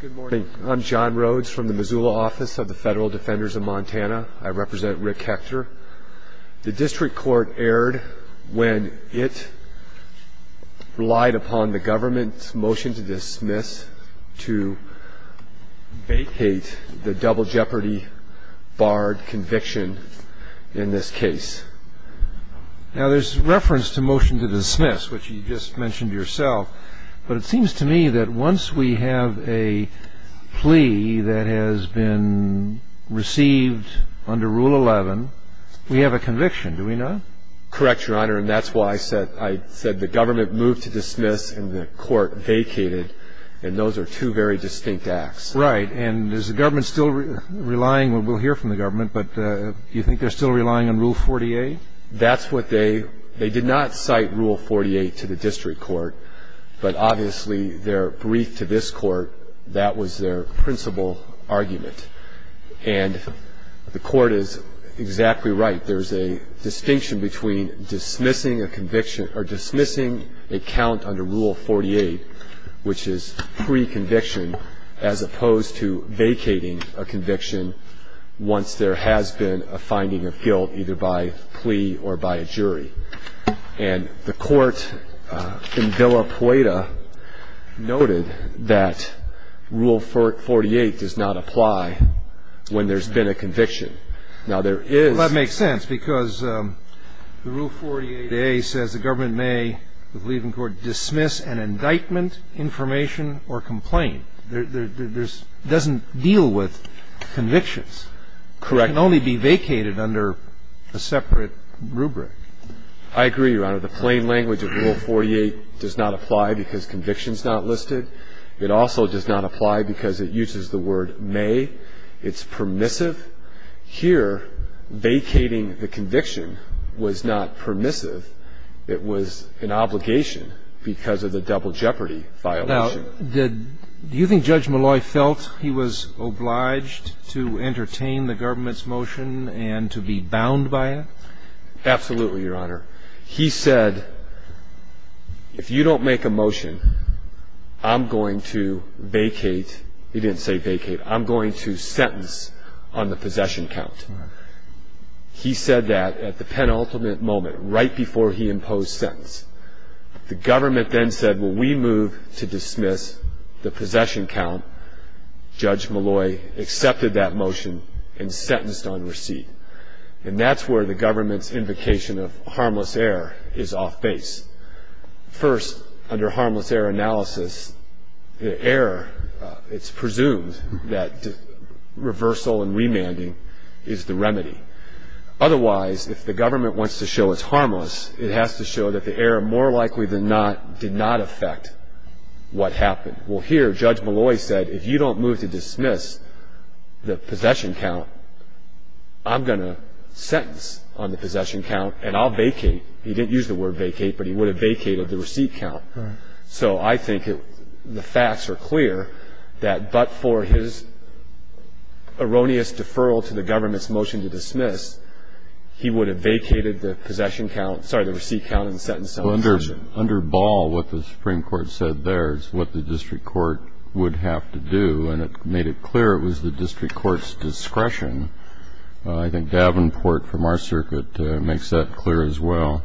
Good morning. I'm John Rhodes from the Missoula office of the Federal Defenders of Montana. I represent Rick Hector. The district court erred when it relied upon the government's motion to dismiss to vacate the double jeopardy barred conviction in this case. Now there's reference to motion to dismiss, which you just mentioned yourself, but it seems to me that once we have a plea that has been received under Rule 11, we have a conviction, do we not? Correct, Your Honor, and that's why I said the government moved to dismiss and the court vacated, and those are two very distinct acts. Right, and is the government still relying, we'll hear from the government, but do you think they're still relying on Rule 48? That's what they, they did not cite Rule 48 to the district court, but obviously their brief to this court, that was their principal argument. And the court is exactly right. There's a distinction between dismissing a conviction or dismissing a count under Rule 48, which is pre-conviction as opposed to vacating a conviction once there has been a finding of guilt either by plea or by a jury. And the court in Villa Poeta noted that Rule 48 does not apply when there's been a conviction. Well, that makes sense because the Rule 48a says the government may, I believe in court, dismiss an indictment, information, or complaint. There's, it doesn't deal with convictions. Correct. It can only be vacated under a separate rubric. I agree, Your Honor. The plain language of Rule 48 does not apply because conviction's not listed. It also does not apply because it uses the word may. It's permissive. Here, vacating the conviction was not permissive. It was an obligation because of the double jeopardy violation. Now, did, do you think Judge Malloy felt he was obliged to entertain the government's motion and to be bound by it? Absolutely, Your Honor. He said, if you don't make a motion, I'm going to vacate, he didn't say vacate, I'm going to sentence on the possession count. He said that at the penultimate moment, right before he imposed sentence. The government then said, well, we move to dismiss the possession count. Judge Malloy accepted that motion and sentenced on receipt. And that's where the government's invocation of harmless error is off base. First, under harmless error analysis, the error, it's presumed that reversal and remanding is the remedy. Otherwise, if the government wants to show it's harmless, it has to show that the error more likely than not did not affect what happened. Well, here, Judge Malloy said, if you don't move to dismiss the possession count, I'm going to sentence on the possession count and I'll vacate. He didn't use the word vacate, but he would have vacated the receipt count. So I think the facts are clear that but for his erroneous deferral to the government's motion to dismiss, he would have vacated the possession count, sorry, the receipt count and sentenced on possession. Well, under Ball, what the Supreme Court said there is what the district court would have to do, and it made it clear it was the district court's discretion. I think Davenport from our circuit makes that clear as well,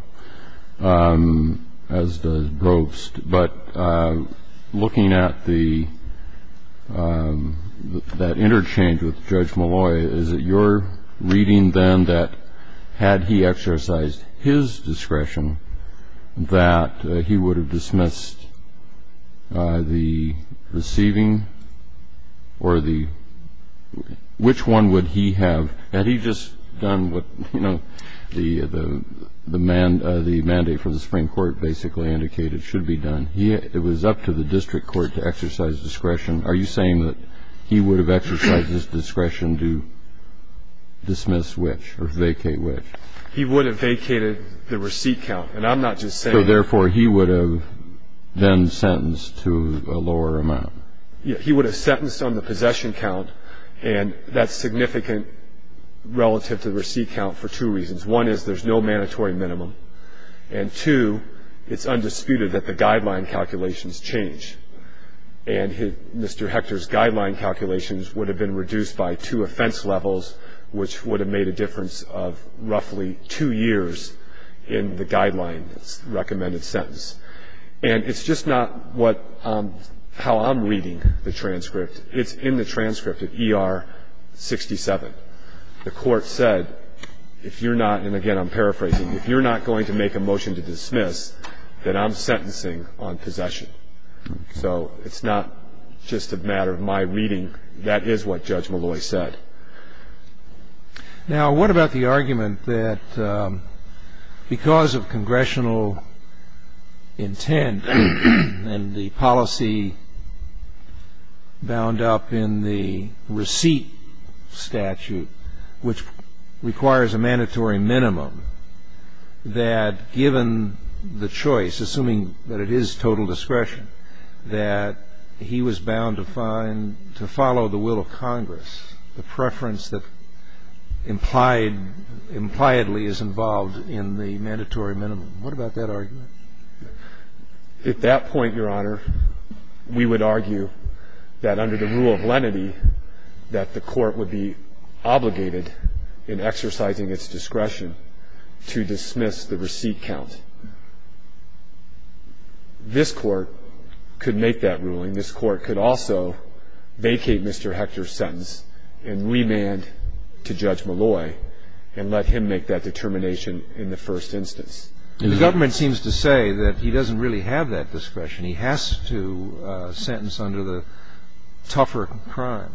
as does Brobst. But looking at that interchange with Judge Malloy, is it your reading, then, that had he exercised his discretion that he would have dismissed the receiving or the – which one would he have? Had he just done what, you know, the mandate from the Supreme Court basically indicated should be done? It was up to the district court to exercise discretion. Are you saying that he would have exercised his discretion to dismiss which or vacate which? He would have vacated the receipt count. And I'm not just saying – So, therefore, he would have then sentenced to a lower amount. He would have sentenced on the possession count, and that's significant relative to the receipt count for two reasons. One is there's no mandatory minimum. And two, it's undisputed that the guideline calculations change. And Mr. Hector's guideline calculations would have been reduced by two offense levels, which would have made a difference of roughly two years in the guideline's recommended sentence. And it's just not what – how I'm reading the transcript. It's in the transcript of ER 67. The Court said, if you're not – and, again, I'm paraphrasing – if you're not going to make a motion to dismiss, then I'm sentencing on possession. So it's not just a matter of my reading. That is what Judge Malloy said. Now, what about the argument that because of congressional intent and the policy bound up in the receipt statute, which requires a mandatory minimum, that given the choice, assuming that it is total discretion, that he was bound to find – to follow the will of Congress, the preference that implied – impliedly is involved in the mandatory minimum? What about that argument? At that point, Your Honor, we would argue that under the rule of lenity, that the Court would be obligated in exercising its discretion to dismiss the receipt count. This Court could make that ruling. This Court could also vacate Mr. Hector's sentence and remand to Judge Malloy and let him make that determination in the first instance. And the government seems to say that he doesn't really have that discretion. He has to sentence under the tougher crime.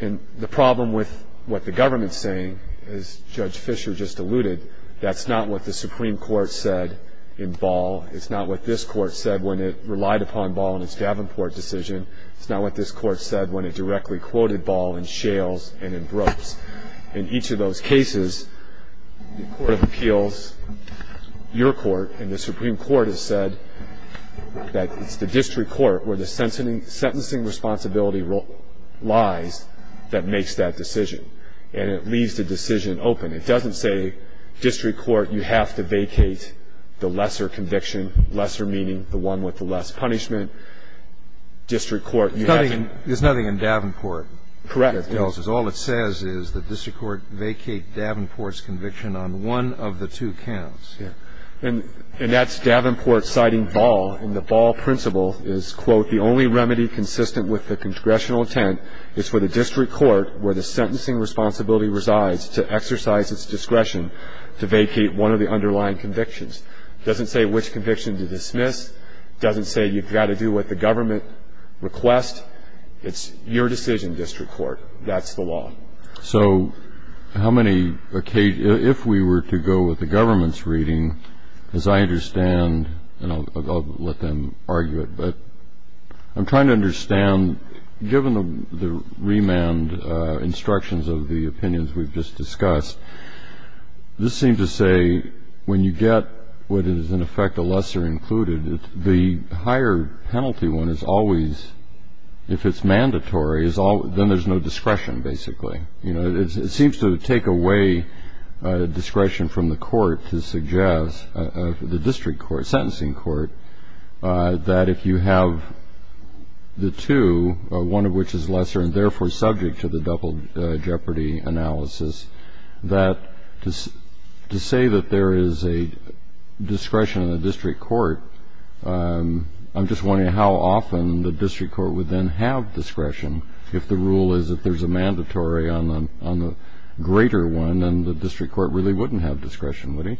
And the problem with what the government's saying, as Judge Fisher just alluded, that's not what the Supreme Court said in Ball. It's not what this Court said when it relied upon Ball in its Davenport decision. It's not what this Court said when it directly quoted Ball in Shales and in Brooks. In each of those cases, the Court of Appeals, your Court, and the Supreme Court has said that it's the district court where the sentencing responsibility lies that makes that decision. And it leaves the decision open. It doesn't say district court, you have to vacate the lesser conviction, lesser meaning the one with the less punishment. District court, you have to – There's nothing in Davenport that tells us. Correct. It tells us that district court vacate Davenport's conviction on one of the two counts. And that's Davenport citing Ball. And the Ball principle is, quote, the only remedy consistent with the congressional intent is for the district court where the sentencing responsibility resides to exercise its discretion to vacate one of the underlying convictions. It doesn't say which conviction to dismiss. It doesn't say you've got to do what the government requests. It's your decision, district court. That's the law. So how many – if we were to go with the government's reading, as I understand, and I'll let them argue it, but I'm trying to understand, given the remand instructions of the opinions we've just discussed, this seems to say when you get what is, in effect, a lesser included, the higher penalty one is always, if it's mandatory, then there's no discretion, basically. It seems to take away discretion from the court to suggest, the district court, sentencing court, that if you have the two, one of which is lesser and therefore subject to the double jeopardy analysis, that to say that there is a discretion in the district court, I'm just wondering how often the district court would then have discretion if the rule is that there's a mandatory on the greater one and the district court really wouldn't have discretion, would he?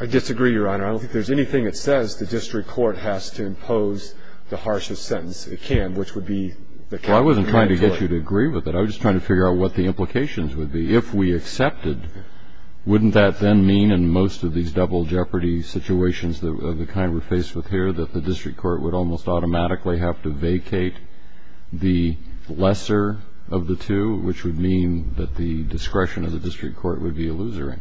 I disagree, Your Honor. I don't think there's anything that says the district court has to impose the harshest sentence it can, which would be the capital mandatory. Well, I wasn't trying to get you to agree with it. I was just trying to figure out what the implications would be. If we accepted, wouldn't that then mean in most of these double jeopardy situations of the kind we're faced with here that the district court would almost automatically have to vacate the lesser of the two, which would mean that the discretion of the district court would be illusory?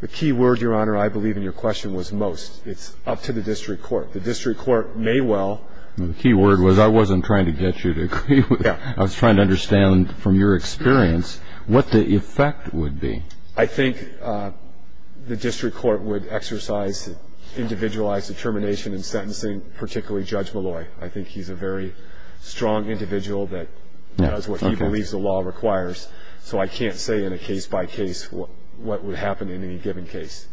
The key word, Your Honor, I believe in your question, was most. It's up to the district court. The district court may well. The key word was I wasn't trying to get you to agree with it. Yeah. I was trying to understand from your experience what the effect would be. I think the district court would exercise individualized determination in sentencing, particularly Judge Malloy. I think he's a very strong individual that does what he believes the law requires, so I can't say in a case-by-case what would happen in any given case.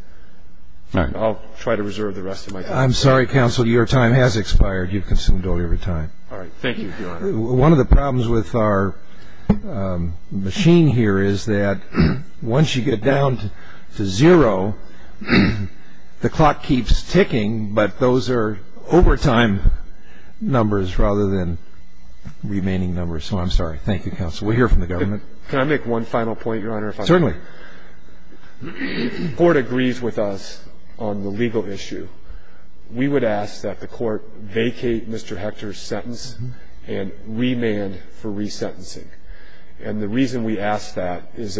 All right. I'll try to reserve the rest of my time. I'm sorry, counsel. Your time has expired. You've consumed all your time. All right. Thank you, Your Honor. One of the problems with our machine here is that once you get down to zero, the clock keeps ticking, but those are overtime numbers rather than remaining numbers. So I'm sorry. Thank you, counsel. We'll hear from the government. Can I make one final point, Your Honor? Certainly. If the court agrees with us on the legal issue, we would ask that the court vacate Mr. Hector's sentence and remand for resentencing. And the reason we ask that is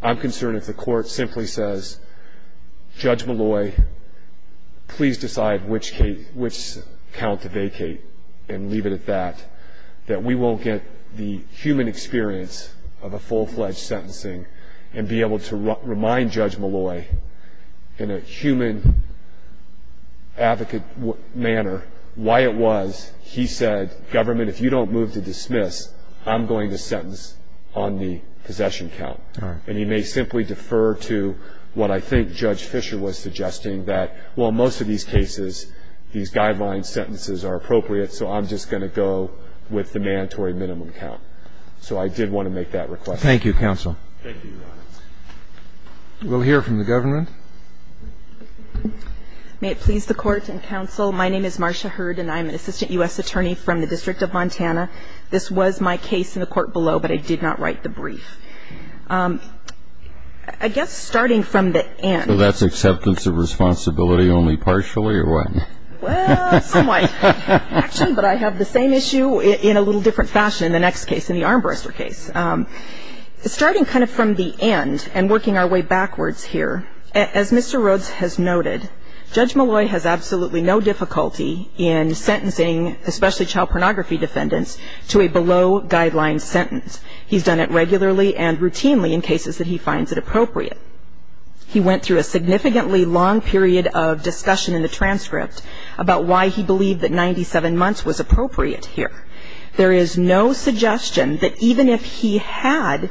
I'm concerned if the court simply says, Judge Malloy, please decide which count to vacate and leave it at that, that we won't get the human experience of a full-fledged sentencing and be able to remind Judge Malloy in a human advocate manner why it was he said, government, if you don't move to dismiss, I'm going to sentence on the possession count. All right. And he may simply defer to what I think Judge Fisher was suggesting that, well, most of these cases, these guideline sentences are appropriate, so I'm just going to go with the mandatory minimum count. So I did want to make that request. Thank you, counsel. Thank you, Your Honor. We'll hear from the government. May it please the Court and counsel, my name is Marsha Hurd, and I'm an assistant U.S. attorney from the District of Montana. This was my case in the court below, but I did not write the brief. I guess starting from the end. So that's acceptance of responsibility only partially, or what? Well, somewhat, actually, but I have the same issue in a little different fashion in the next case, in the Armbruster case. Starting kind of from the end and working our way backwards here, as Mr. Rhodes has noted, Judge Malloy has absolutely no difficulty in sentencing, especially child pornography defendants, to a below-guideline sentence. He's done it regularly and routinely in cases that he finds it appropriate. He went through a significantly long period of discussion in the transcript about why he believed that 97 months was appropriate here. There is no suggestion that even if he had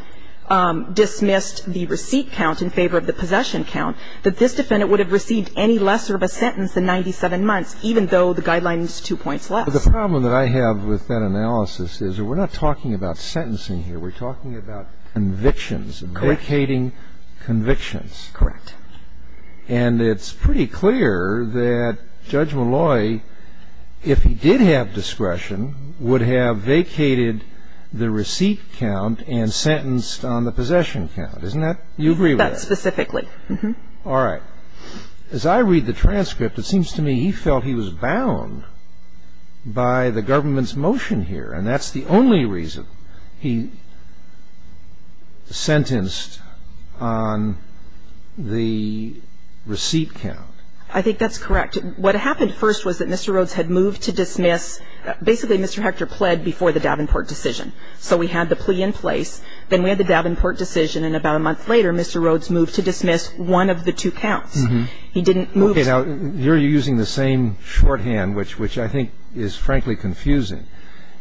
dismissed the receipt count in favor of the possession count, that this defendant would have received any lesser of a sentence than 97 months, even though the guideline is two points less. The problem that I have with that analysis is we're not talking about sentencing here. We're talking about convictions, vacating convictions. Correct. And it's pretty clear that Judge Malloy, if he did have discretion, would have vacated the receipt count and sentenced on the possession count. Isn't that you agree with that? That's specifically. All right. As I read the transcript, it seems to me he felt he was bound by the government's motion here, and that's the only reason he sentenced on the receipt count. I think that's correct. What happened first was that Mr. Rhodes had moved to dismiss. Basically, Mr. Hector pled before the Davenport decision. So we had the plea in place. Then we had the Davenport decision, and about a month later, Mr. Rhodes moved to dismiss one of the two counts. He didn't move. Okay. Now, here you're using the same shorthand, which I think is, frankly, confusing.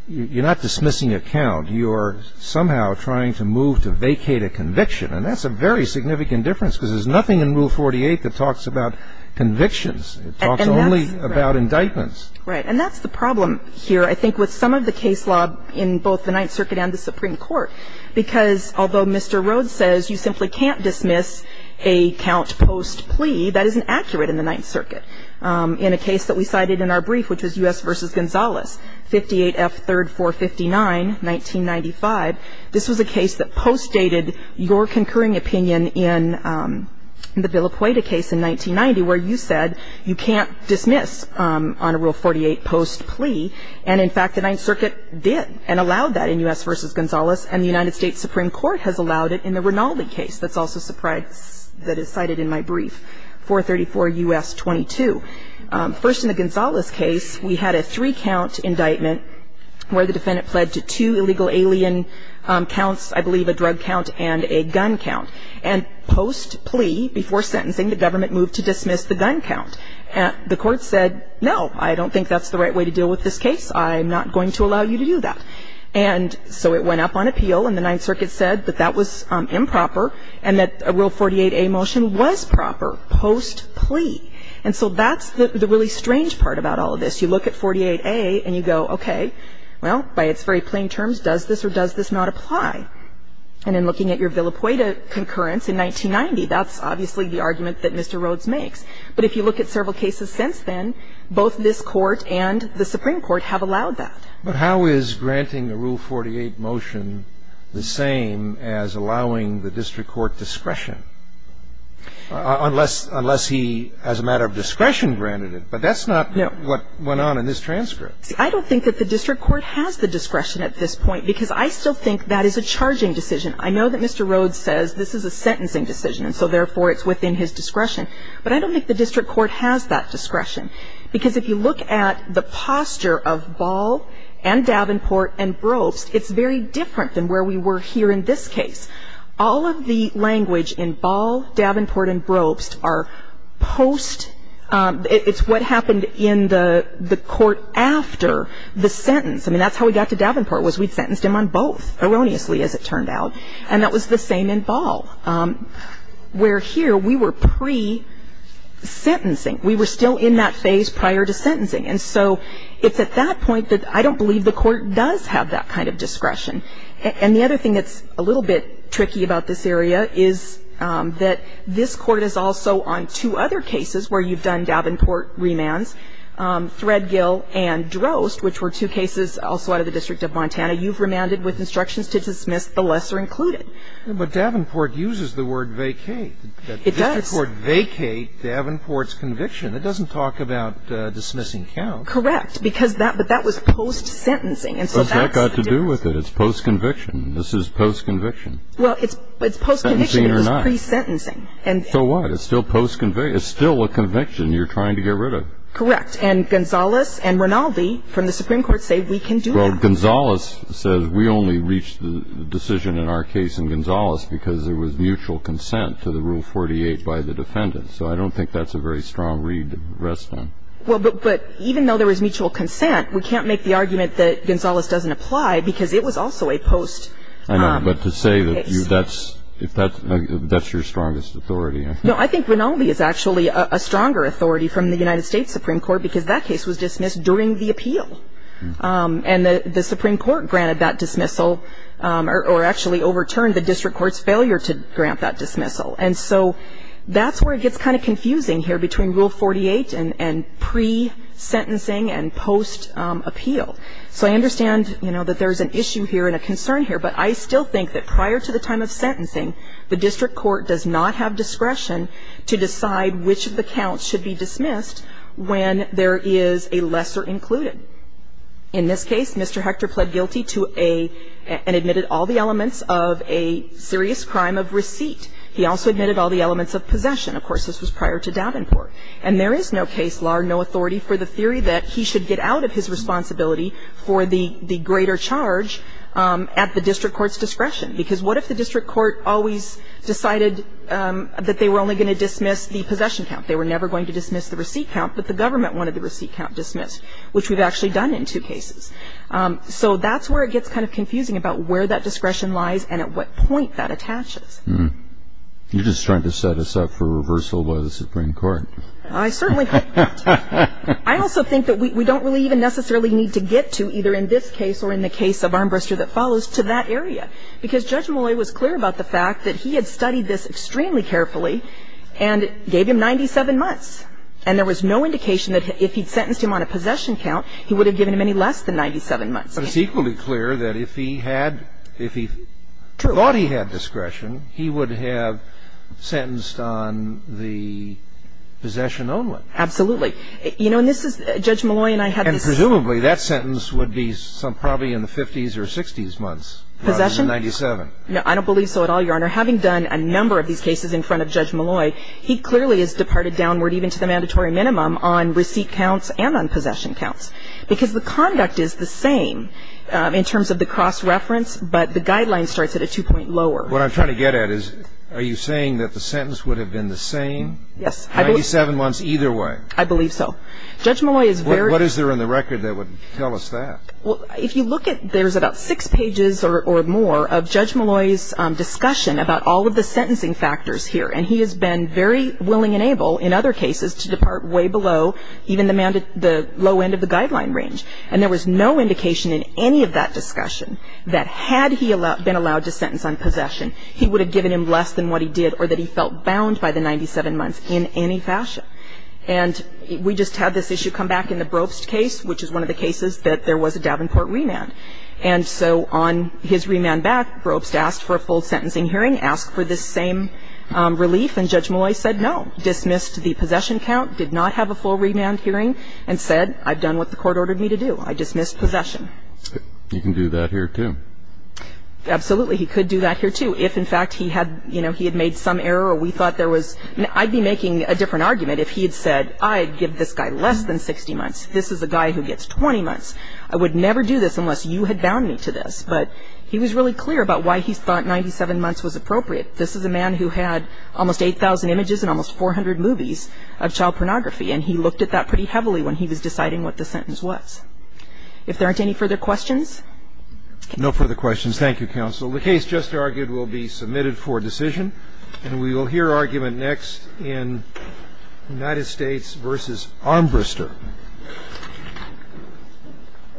You're not dismissing a count. You are somehow trying to move to vacate a conviction, and that's a very significant difference because there's nothing in Rule 48 that talks about convictions. It talks only about indictments. Right. And that's the problem here, I think, with some of the case law in both the Ninth Circuit and the Supreme Court, because although Mr. Rhodes says you simply can't dismiss a count post plea, that isn't accurate in the Ninth Circuit. In a case that we cited in our brief, which was U.S. v. Gonzales, 58 F. 3rd 459, 1995, this was a case that postdated your concurring opinion in the Villa-Pueyta case in 1990, where you said you can't dismiss on a Rule 48 post plea. And, in fact, the Ninth Circuit did and allowed that in U.S. v. Gonzales, and the United States Supreme Court has allowed it in the Rinaldi case that's also cited in my brief, 434 U.S. 22. First, in the Gonzales case, we had a three-count indictment where the defendant fled to two illegal alien counts, I believe a drug count and a gun count. And post plea, before sentencing, the government moved to dismiss the gun count. The court said, no, I don't think that's the right way to deal with this case. I'm not going to allow you to do that. And so it went up on appeal, and the Ninth Circuit said that that was improper and that a Rule 48a motion was proper post plea. And so that's the really strange part about all of this. You look at 48a and you go, okay, well, by its very plain terms, does this or does this not apply? And in looking at your Villa-Pueyta concurrence in 1990, that's obviously the argument that Mr. Rhodes makes. But if you look at several cases since then, both this Court and the Supreme Court have allowed that. But how is granting a Rule 48 motion the same as allowing the district court discretion? Unless he, as a matter of discretion, granted it. But that's not what went on in this transcript. See, I don't think that the district court has the discretion at this point, because I still think that is a charging decision. I know that Mr. Rhodes says this is a sentencing decision, and so therefore it's within his discretion. But I don't think the district court has that discretion, because if you look at the posture of Ball and Davenport and Brobst, it's very different than where we were here in this case. All of the language in Ball, Davenport and Brobst are post — it's what happened in the court after the sentence. I mean, that's how we got to Davenport, was we'd sentenced him on both, erroneously, as it turned out. And that was the same in Ball, where here we were pre-sentencing. We were still in that phase prior to sentencing. And so it's at that point that I don't believe the court does have that kind of discretion. And the other thing that's a little bit tricky about this area is that this court is also on two other cases where you've done Davenport remands, Threadgill and Drost, which were two cases also out of the District of Montana. You've remanded with instructions to dismiss the lesser included. But Davenport uses the word vacate. It does. The district court vacate Davenport's conviction. It doesn't talk about dismissing counts. Correct. Because that — but that was post-sentencing, and so that's the difference. I agree with it. It's post-conviction. This is post-conviction. Well, it's post-conviction. Sentencing or not. It was pre-sentencing. So what? It's still post-conviction. It's still a conviction you're trying to get rid of. Correct. And Gonzales and Rinaldi from the Supreme Court say we can do that. Well, Gonzales says we only reached the decision in our case in Gonzales because there was mutual consent to the Rule 48 by the defendant. So I don't think that's a very strong read to rest on. Well, but even though there was mutual consent, we can't make the argument that Gonzales doesn't apply because it was also a post-case. I know, but to say that that's your strongest authority. No, I think Rinaldi is actually a stronger authority from the United States Supreme Court because that case was dismissed during the appeal. And the Supreme Court granted that dismissal or actually overturned the district court's failure to grant that dismissal. And so that's where it gets kind of confusing here between Rule 48 and pre-sentencing and post-appeal. So I understand, you know, that there's an issue here and a concern here, but I still think that prior to the time of sentencing, the district court does not have discretion to decide which of the counts should be dismissed when there is a lesser included. In this case, Mr. Hector pled guilty to a – and admitted all the elements of a serious crime of receipt. He also admitted all the elements of possession. Of course, this was prior to Davenport. And there is no case law or no authority for the theory that he should get out of his responsibility for the greater charge at the district court's discretion. Because what if the district court always decided that they were only going to dismiss the possession count? They were never going to dismiss the receipt count, but the government wanted the receipt count dismissed, which we've actually done in two cases. So that's where it gets kind of confusing about where that discretion lies and at what point that attaches. You're just trying to set us up for reversal by the Supreme Court. I certainly can't. I also think that we don't really even necessarily need to get to, either in this case or in the case of Armbruster that follows, to that area. Because Judge Molloy was clear about the fact that he had studied this extremely carefully and gave him 97 months. And there was no indication that if he had sentenced him on a possession count, he would have given him any less than 97 months. But it's equally clear that if he had – if he thought he had discretion, he would have sentenced on the possession only. Absolutely. You know, and this is – Judge Molloy and I had this – And presumably that sentence would be some – probably in the 50s or 60s months rather than 97. Possession? I don't believe so at all, Your Honor. Having done a number of these cases in front of Judge Molloy, he clearly has departed downward even to the mandatory minimum on receipt counts and on possession counts, because the conduct is the same in terms of the cross-reference, but the guideline starts at a two-point lower. What I'm trying to get at is, are you saying that the sentence would have been the same? Yes. 97 months either way? I believe so. Judge Molloy is very – What is there in the record that would tell us that? Well, if you look at – there's about six pages or more of Judge Molloy's discussion about all of the sentencing factors here. And he has been very willing and able in other cases to depart way below even the low end of the guideline range. And there was no indication in any of that discussion that had he been allowed to sentence on possession. He would have given him less than what he did or that he felt bound by the 97 months in any fashion. And we just had this issue come back in the Brobst case, which is one of the cases that there was a Davenport remand. And so on his remand back, Brobst asked for a full sentencing hearing, asked for this same relief, and Judge Molloy said no, dismissed the possession count, did not have a full remand hearing, and said, I've done what the court ordered me to do. I dismissed possession. You can do that here, too. Absolutely. He could do that here, too, if, in fact, he had – you know, he had made some error or we thought there was – I'd be making a different argument if he had said, I'd give this guy less than 60 months. This is a guy who gets 20 months. I would never do this unless you had bound me to this. But he was really clear about why he thought 97 months was appropriate. This is a man who had almost 8,000 images and almost 400 movies of child pornography. And he looked at that pretty heavily when he was deciding what the sentence was. If there aren't any further questions? No further questions. Thank you, Counsel. The case just argued will be submitted for decision. And we will hear argument next in United States v. Armbrister.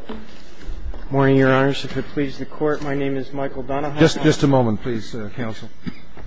Good morning, Your Honors. If it pleases the Court, my name is Michael Donahoe. Just a moment, please, Counsel.